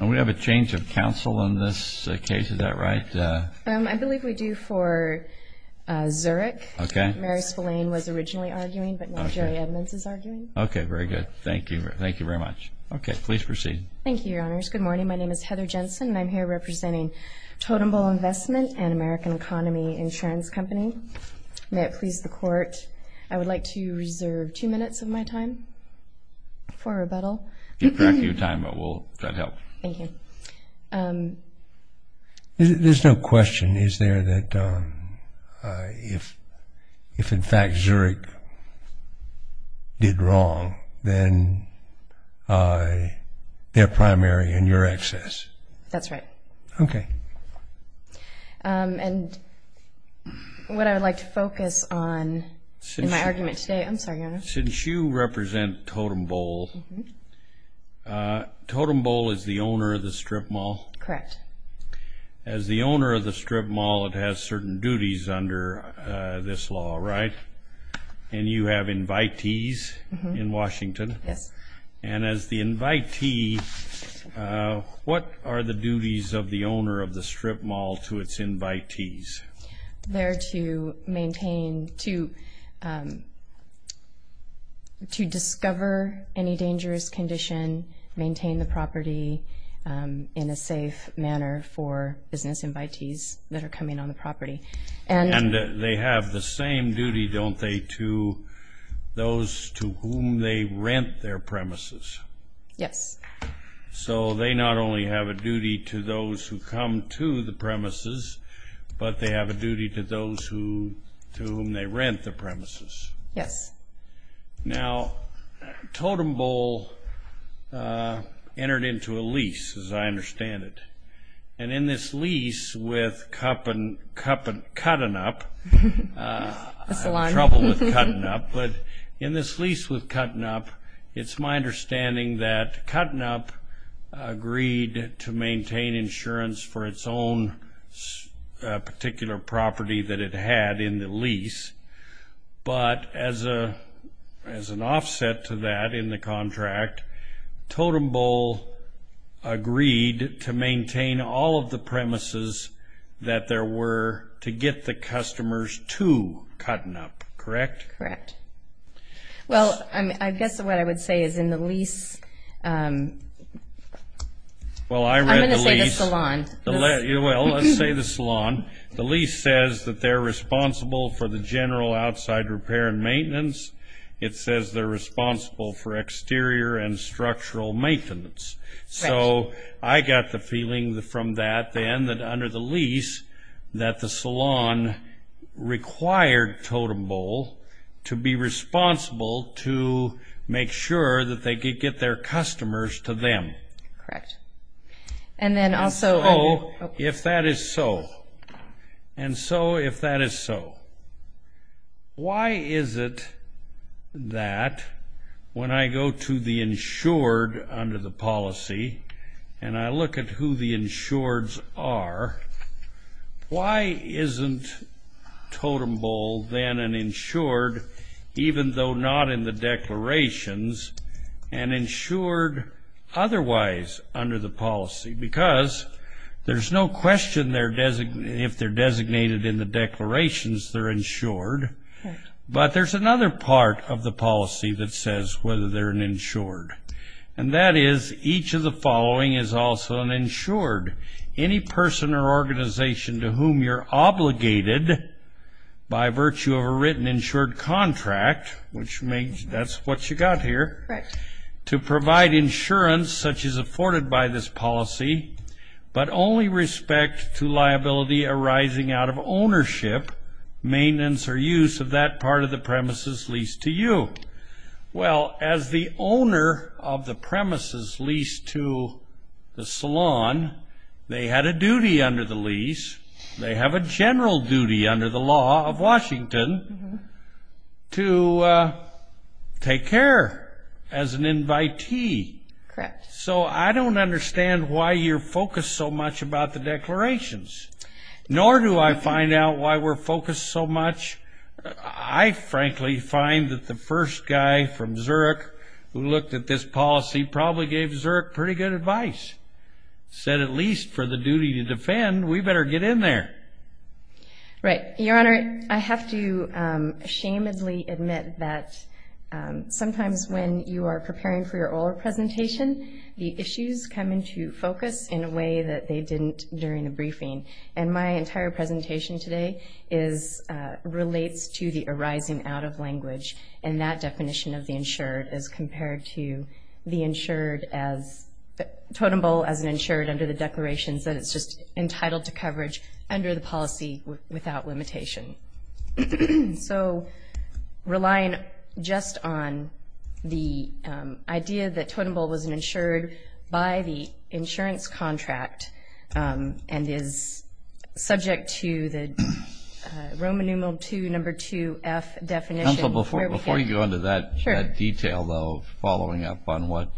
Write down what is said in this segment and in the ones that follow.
And we have a change of counsel in this case, is that right? I believe we do for Zurich. Okay. Mary Spillane was originally arguing, but now Jerry Edmunds is arguing. Okay, very good. Thank you. Thank you very much. Okay, please proceed. Thank you, Your Honors. Good morning. My name is Heather Jensen, and I'm here representing Totem Bowl Investment and American Economy Insurance Company. May it please the Court, I would like to reserve two minutes of my time for rebuttal. Correct your time, but we'll try to help. Thank you. There's no question, is there, that if in fact Zurich did wrong, then they're primary and you're excess? That's right. Okay. And what I would like to focus on in my argument today, I'm sorry, Your Honors. Since you represent Totem Bowl, Totem Bowl is the owner of the strip mall? Correct. As the owner of the strip mall, it has certain duties under this law, right? And you have invitees in Washington. Yes. And as the invitee, what are the duties of the owner of the strip mall to its invitees? They're to maintain, to discover any dangerous condition, maintain the property in a safe manner for business invitees that are coming on the property. And they have the same duty, don't they, to those to whom they rent their premises? Yes. So they not only have a duty to those who come to the premises, but they have a duty to those to whom they rent the premises. Yes. Now, Totem Bowl entered into a lease, as I understand it. And in this lease with Cut-N-Up, trouble with Cut-N-Up, but in this lease with Cut-N-Up, it's my understanding that Cut-N-Up agreed to maintain insurance for its own particular property that it had in the lease. But as an offset to that in the contract, Totem Bowl agreed to maintain all of the premises that there were to get the customers to Cut-N-Up, correct? Correct. Well, I guess what I would say is in the lease, I'm going to say the salon. Well, let's say the salon. The lease says that they're responsible for the general outside repair and maintenance. It says they're responsible for exterior and structural maintenance. Correct. So I got the feeling from that then that under the lease that the salon required Totem Bowl to be responsible to make sure that they could get their customers to them. Correct. And then also... And so if that is so, why is it that when I go to the insured under the policy and I look at who the insureds are, why isn't Totem Bowl then an insured, even though not in the declarations, an insured otherwise under the policy? Because there's no question if they're designated in the declarations, they're insured. But there's another part of the policy that says whether they're an insured. And that is each of the following is also an insured. Any person or organization to whom you're obligated by virtue of a written insured contract, which means that's what you got here, to provide insurance such as afforded by this policy, but only respect to liability arising out of ownership, maintenance or use of that part of the premises leased to you. Well, as the owner of the premises leased to the salon, they had a duty under the lease. They have a general duty under the law of Washington to take care as an invitee. Correct. So I don't understand why you're focused so much about the declarations, nor do I find out why we're focused so much. I frankly find that the first guy from Zurich who looked at this policy probably gave Zurich pretty good advice, said at least for the duty to defend, we better get in there. Right. Your Honor, I have to shamelessly admit that sometimes when you are preparing for your oral presentation, the issues come into focus in a way that they didn't during the briefing. And my entire presentation today relates to the arising out of language and that definition of the insured as compared to the insured as totem pole as an insured under the declarations that it's just entitled to coverage under the policy without limitation. So relying just on the idea that totem pole was an insured by the insurance contract and is subject to the Roman numeral 2, number 2F definition. Counsel, before you go into that detail, though, following up on what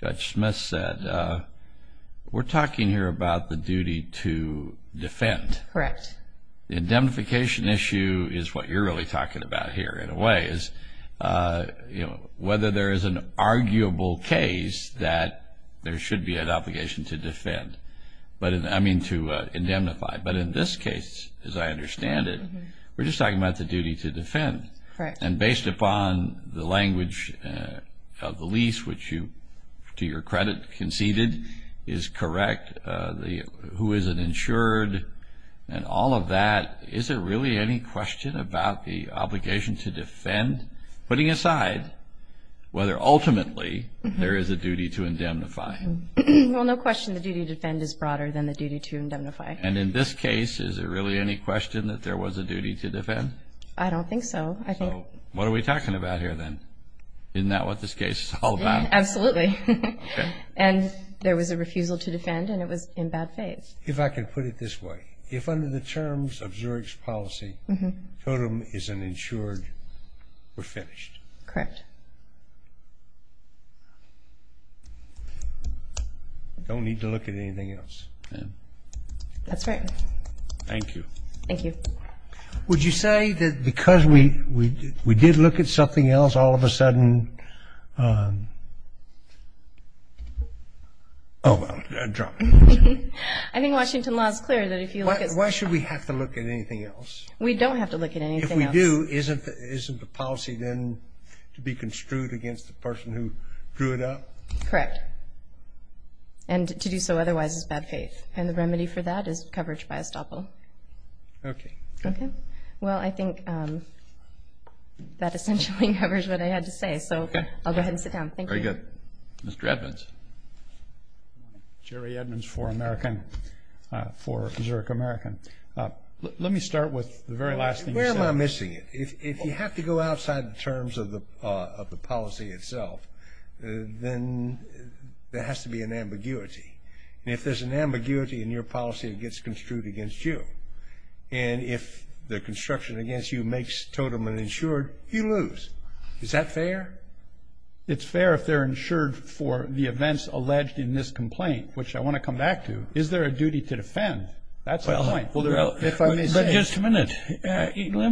Judge Smith said, we're talking here about the duty to defend. Correct. The indemnification issue is what you're really talking about here in a way is whether there is an arguable case that there should be an obligation to defend, I mean to indemnify. But in this case, as I understand it, we're just talking about the duty to defend. Correct. And based upon the language of the lease, which you, to your credit, conceded is correct, who is an insured and all of that, is there really any question about the obligation to defend, putting aside whether ultimately there is a duty to indemnify? Well, no question the duty to defend is broader than the duty to indemnify. And in this case, is there really any question that there was a duty to defend? I don't think so. So what are we talking about here then? Isn't that what this case is all about? Absolutely. Okay. And there was a refusal to defend and it was in bad faith. If I could put it this way, if under the terms of Zurich's policy, totem is an insured, we're finished. Correct. Don't need to look at anything else. That's right. Thank you. Thank you. Would you say that because we did look at something else, all of a sudden, oh, well, I dropped it. I think Washington law is clear that if you look at something else. Why should we have to look at anything else? We don't have to look at anything else. If we do, isn't the policy then to be construed against the person who drew it up? Correct. And to do so otherwise is bad faith. And the remedy for that is coverage by estoppel. Okay. Okay. Well, I think that essentially covers what I had to say. So I'll go ahead and sit down. Thank you. Very good. Mr. Edmonds. Jerry Edmonds for American, for Zurich American. Let me start with the very last thing you said. Where am I missing it? If you have to go outside the terms of the policy itself, then there has to be an ambiguity. And if there's an ambiguity in your policy, it gets construed against you. And if the construction against you makes Totem uninsured, you lose. Is that fair? It's fair if they're insured for the events alleged in this complaint, which I want to come back to. Is there a duty to defend? That's the point. If I may say. Just a minute. Let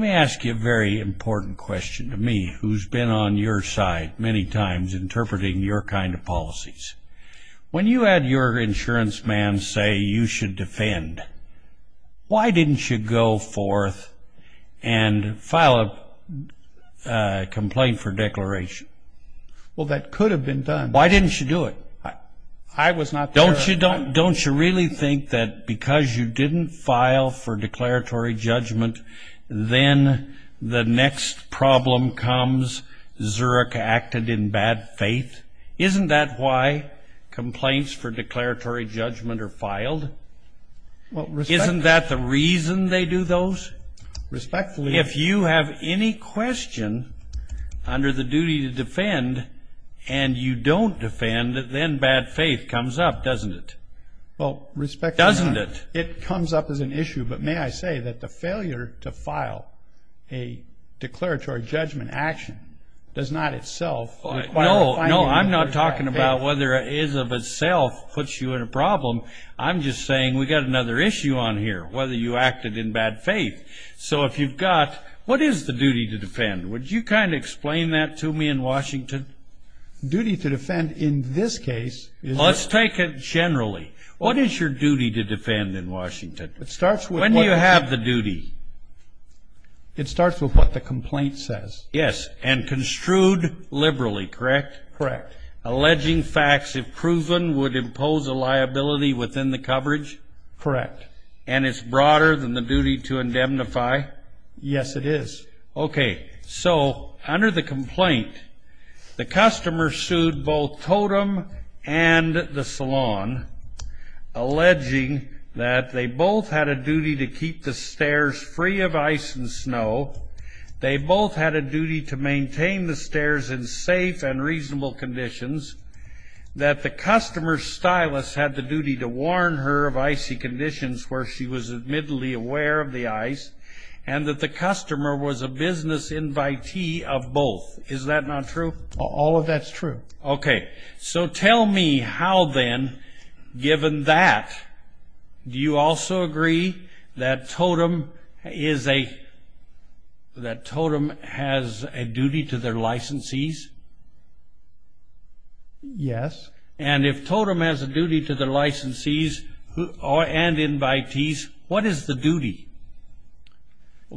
me ask you a very important question to me, who's been on your side many times, interpreting your kind of policies. When you had your insurance man say you should defend, why didn't you go forth and file a complaint for declaration? Well, that could have been done. Why didn't you do it? I was not sure. Don't you really think that because you didn't file for declaratory judgment, then the next problem comes Zurich acted in bad faith? Isn't that why complaints for declaratory judgment are filed? Isn't that the reason they do those? If you have any question under the duty to defend and you don't defend, then bad faith comes up, doesn't it? Well, respectfully. Doesn't it? It comes up as an issue. But may I say that the failure to file a declaratory judgment action does not itself. No, I'm not talking about whether it is of itself puts you in a problem. I'm just saying we've got another issue on here, whether you acted in bad faith. So if you've got, what is the duty to defend? Would you kind of explain that to me in Washington? Duty to defend in this case. Let's take it generally. What is your duty to defend in Washington? When do you have the duty? It starts with what the complaint says. Yes, and construed liberally, correct? Correct. Alleging facts if proven would impose a liability within the coverage? Correct. And it's broader than the duty to indemnify? Yes, it is. Okay, so under the complaint, the customer sued both Totem and the salon, alleging that they both had a duty to keep the stairs free of ice and snow, they both had a duty to maintain the stairs in safe and reasonable conditions, that the customer's stylist had the duty to warn her of icy conditions where she was admittedly aware of the ice, and that the customer was a business invitee of both. Is that not true? All of that's true. Okay, so tell me how then, given that, do you also agree that Totem has a duty to their licensees? Yes. And if Totem has a duty to their licensees and invitees, what is the duty?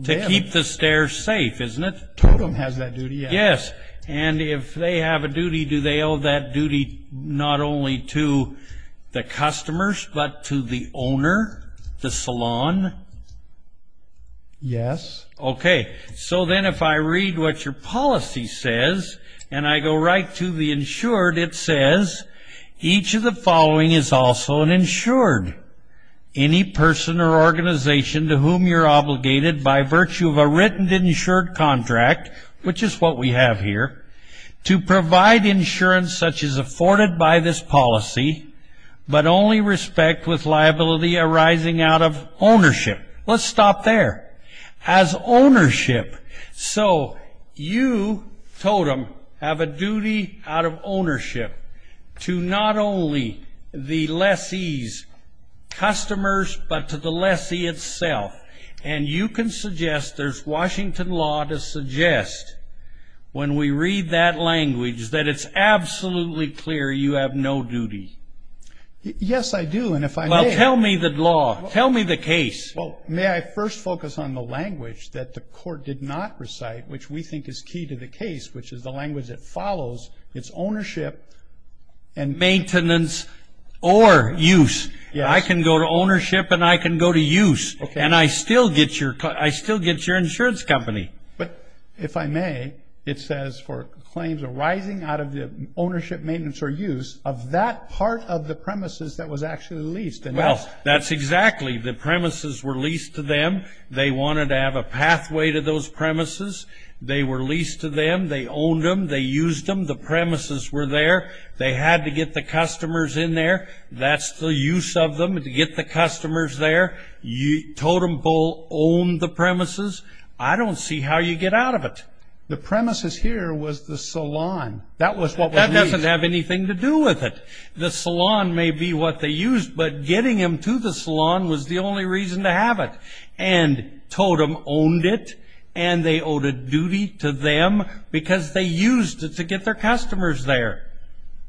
To keep the stairs safe, isn't it? Totem has that duty, yes. Yes, and if they have a duty, do they owe that duty not only to the customers, but to the owner, the salon? Yes. Okay, so then if I read what your policy says, and I go right to the insured, it says, each of the following is also an insured. Any person or organization to whom you're obligated by virtue of a written insured contract, which is what we have here, to provide insurance such as afforded by this policy, Let's stop there. Has ownership. So you, Totem, have a duty out of ownership to not only the lessee's customers, but to the lessee itself. And you can suggest, there's Washington law to suggest, when we read that language, that it's absolutely clear you have no duty. Yes, I do. Well, tell me the law. Tell me the case. May I first focus on the language that the court did not recite, which we think is key to the case, which is the language that follows, it's ownership and Maintenance or use. I can go to ownership and I can go to use, and I still get your insurance company. But if I may, it says for claims arising out of the ownership, maintenance, or use, of that part of the premises that was actually leased. Well, that's exactly. The premises were leased to them. They wanted to have a pathway to those premises. They were leased to them. They owned them. They used them. The premises were there. They had to get the customers in there. That's the use of them, to get the customers there. Totem Pole owned the premises. I don't see how you get out of it. The premises here was the salon. That was what was leased. That doesn't have anything to do with it. The salon may be what they used, but getting them to the salon was the only reason to have it. And Totem owned it, and they owed a duty to them because they used it to get their customers there.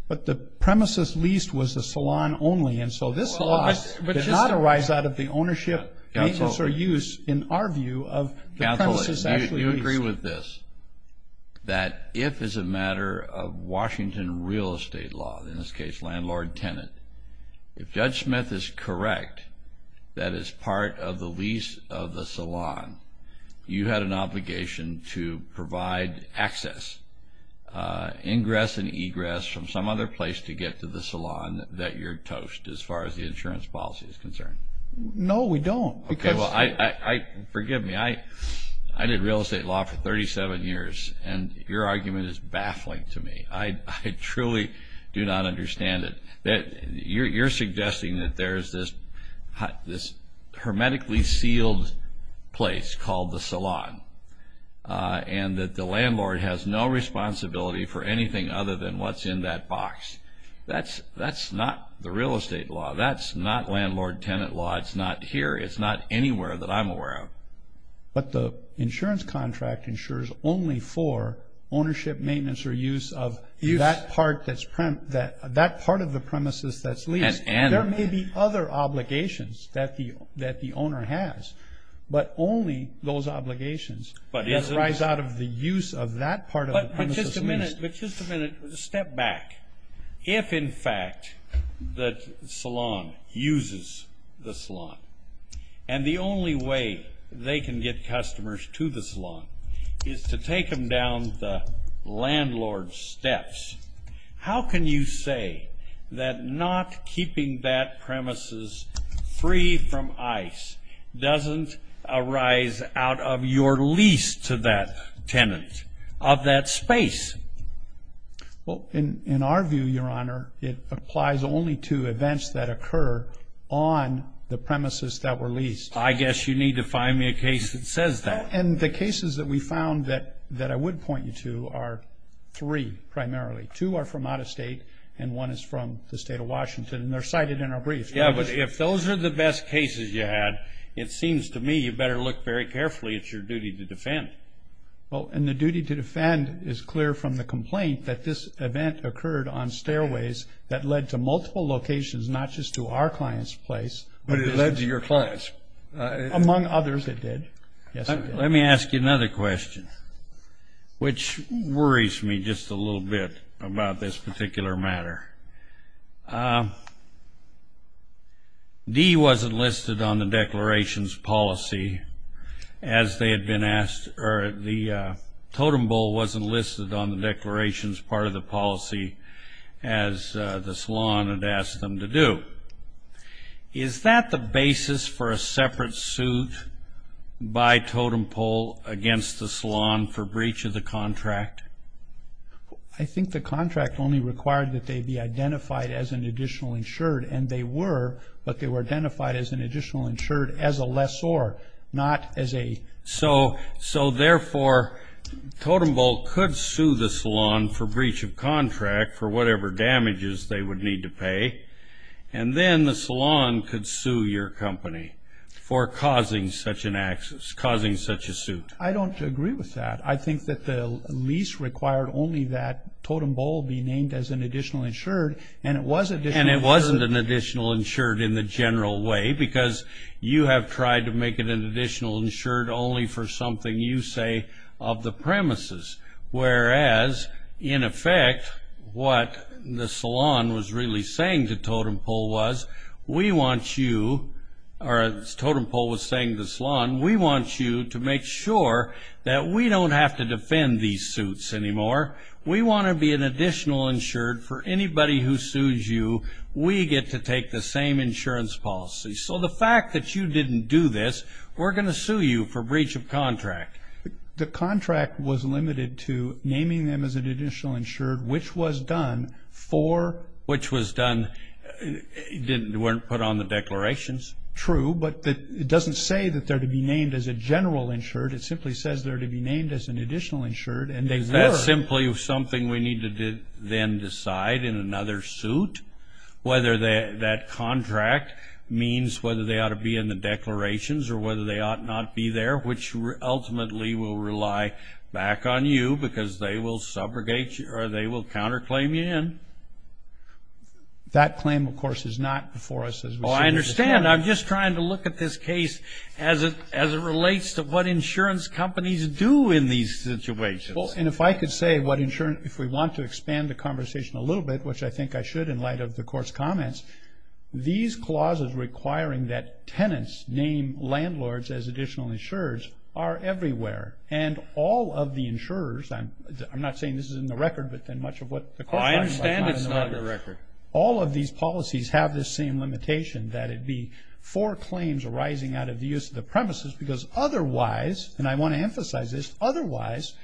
But the premises leased was the salon only, and so this law did not arise out of the ownership, maintenance, or use, in our view, of the premises actually leased. I agree with this, that if it's a matter of Washington real estate law, in this case landlord-tenant, if Judge Smith is correct that it's part of the lease of the salon, you had an obligation to provide access, ingress and egress, from some other place to get to the salon that you're toast as far as the insurance policy is concerned. No, we don't. Forgive me. I did real estate law for 37 years, and your argument is baffling to me. I truly do not understand it. You're suggesting that there's this hermetically sealed place called the salon and that the landlord has no responsibility for anything other than what's in that box. That's not the real estate law. That's not landlord-tenant law. It's not here. It's not anywhere that I'm aware of. But the insurance contract insures only for ownership, maintenance, or use of that part of the premises that's leased. There may be other obligations that the owner has, but only those obligations that arise out of the use of that part of the premises leased. But just a minute. Step back. If, in fact, the salon uses the salon and the only way they can get customers to the salon is to take them down the landlord's steps, how can you say that not keeping that premises free from ICE doesn't arise out of your lease to that tenant of that space? Well, in our view, Your Honor, it applies only to events that occur on the premises that were leased. I guess you need to find me a case that says that. And the cases that we found that I would point you to are three primarily. Two are from out-of-state and one is from the state of Washington, and they're cited in our brief. Yeah, but if those are the best cases you had, it seems to me you better look very carefully. It's your duty to defend. Well, and the duty to defend is clear from the complaint that this event occurred on stairways that led to multiple locations, not just to our client's place. But it led to your client's. Among others, it did. Let me ask you another question, which worries me just a little bit about this particular matter. D wasn't listed on the declarations policy as they had been asked, or the totem pole wasn't listed on the declarations part of the policy as the salon had asked them to do. Is that the basis for a separate suit by totem pole against the salon for breach of the contract? I think the contract only required that they be identified as an additional insured, and they were, but they were identified as an additional insured as a lessor, not as a. So, therefore, totem pole could sue the salon for breach of contract for whatever damages they would need to pay, and then the salon could sue your company for causing such a suit. I don't agree with that. I think that the lease required only that totem pole be named as an additional insured, and it was an additional insured. And it wasn't an additional insured in the general way, because you have tried to make it an additional insured only for something you say of the premises. Whereas, in effect, what the salon was really saying to totem pole was, we want you, or as totem pole was saying to salon, we want you to make sure that we don't have to defend these suits anymore. We want to be an additional insured for anybody who sues you. We get to take the same insurance policy. So the fact that you didn't do this, we're going to sue you for breach of contract. The contract was limited to naming them as an additional insured, which was done for? Which was done, weren't put on the declarations. True, but it doesn't say that they're to be named as a general insured. It simply says they're to be named as an additional insured, and they were. Is that simply something we need to then decide in another suit? Whether that contract means whether they ought to be in the declarations, or whether they ought not be there, which ultimately will rely back on you, because they will subrogate you, or they will counterclaim you in. That claim, of course, is not before us. I understand. I'm just trying to look at this case as it relates to what insurance companies do in these situations. And if I could say what insurance, if we want to expand the conversation a little bit, which I think I should in light of the court's comments, these clauses requiring that tenants name landlords as additional insurers are everywhere. And all of the insurers, I'm not saying this is in the record, but in much of what the court finds. I understand it's not in the record. All of these policies have this same limitation, that it be for claims arising out of the use of the premises, because otherwise, and I want to emphasize this, otherwise,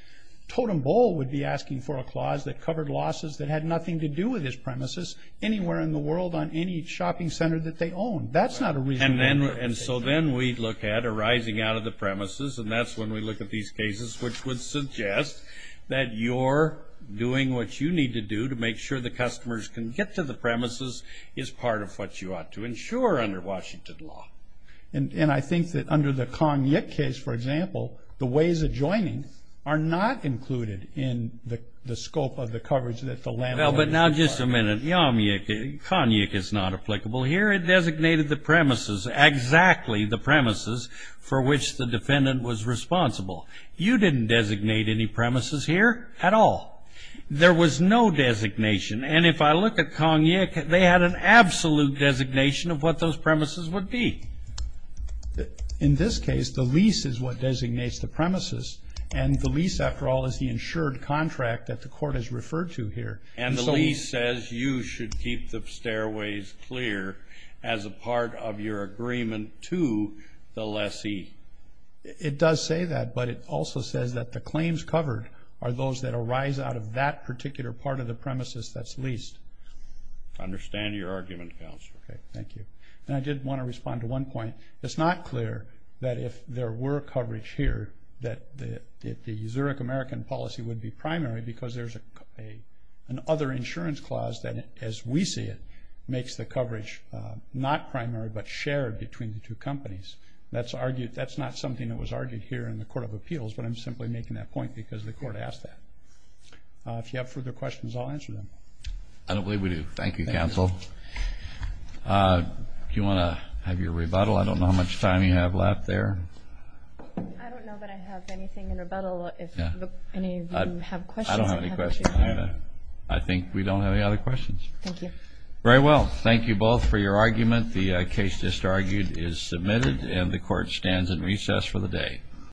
Totem Bowl would be asking for a clause that covered losses that had nothing to do with its premises anywhere in the world on any shopping center that they own. That's not a reasonable limitation. And so then we look at arising out of the premises, and that's when we look at these cases, which would suggest that you're doing what you need to do to make sure the customers can get to the premises is part of what you ought to insure under Washington law. And I think that under the Konyuk case, for example, the ways of joining are not included in the scope of the coverage that the landlord is requiring. But now just a minute. Konyuk is not applicable. Here it designated the premises, exactly the premises for which the defendant was responsible. You didn't designate any premises here at all. There was no designation. And if I look at Konyuk, they had an absolute designation of what those premises would be. In this case, the lease is what designates the premises, and the lease, after all, is the insured contract that the court has referred to here. And the lease says you should keep the stairways clear as a part of your agreement to the lessee. It does say that, but it also says that the claims covered are those that arise out of that particular part of the premises that's leased. I understand your argument, Counselor. Okay, thank you. And I did want to respond to one point. It's not clear that if there were coverage here that the Zurich American policy would be primary because there's another insurance clause that, as we see it, makes the coverage not primary but shared between the two companies. That's not something that was argued here in the Court of Appeals, but I'm simply making that point because the court asked that. If you have further questions, I'll answer them. I don't believe we do. Thank you, Counsel. Do you want to have your rebuttal? I don't know how much time you have left there. I don't know that I have anything in rebuttal. If any of you have questions. I don't have any questions. I think we don't have any other questions. Thank you. Very well. Thank you both for your argument. The case just argued is submitted, and the Court stands in recess for the day.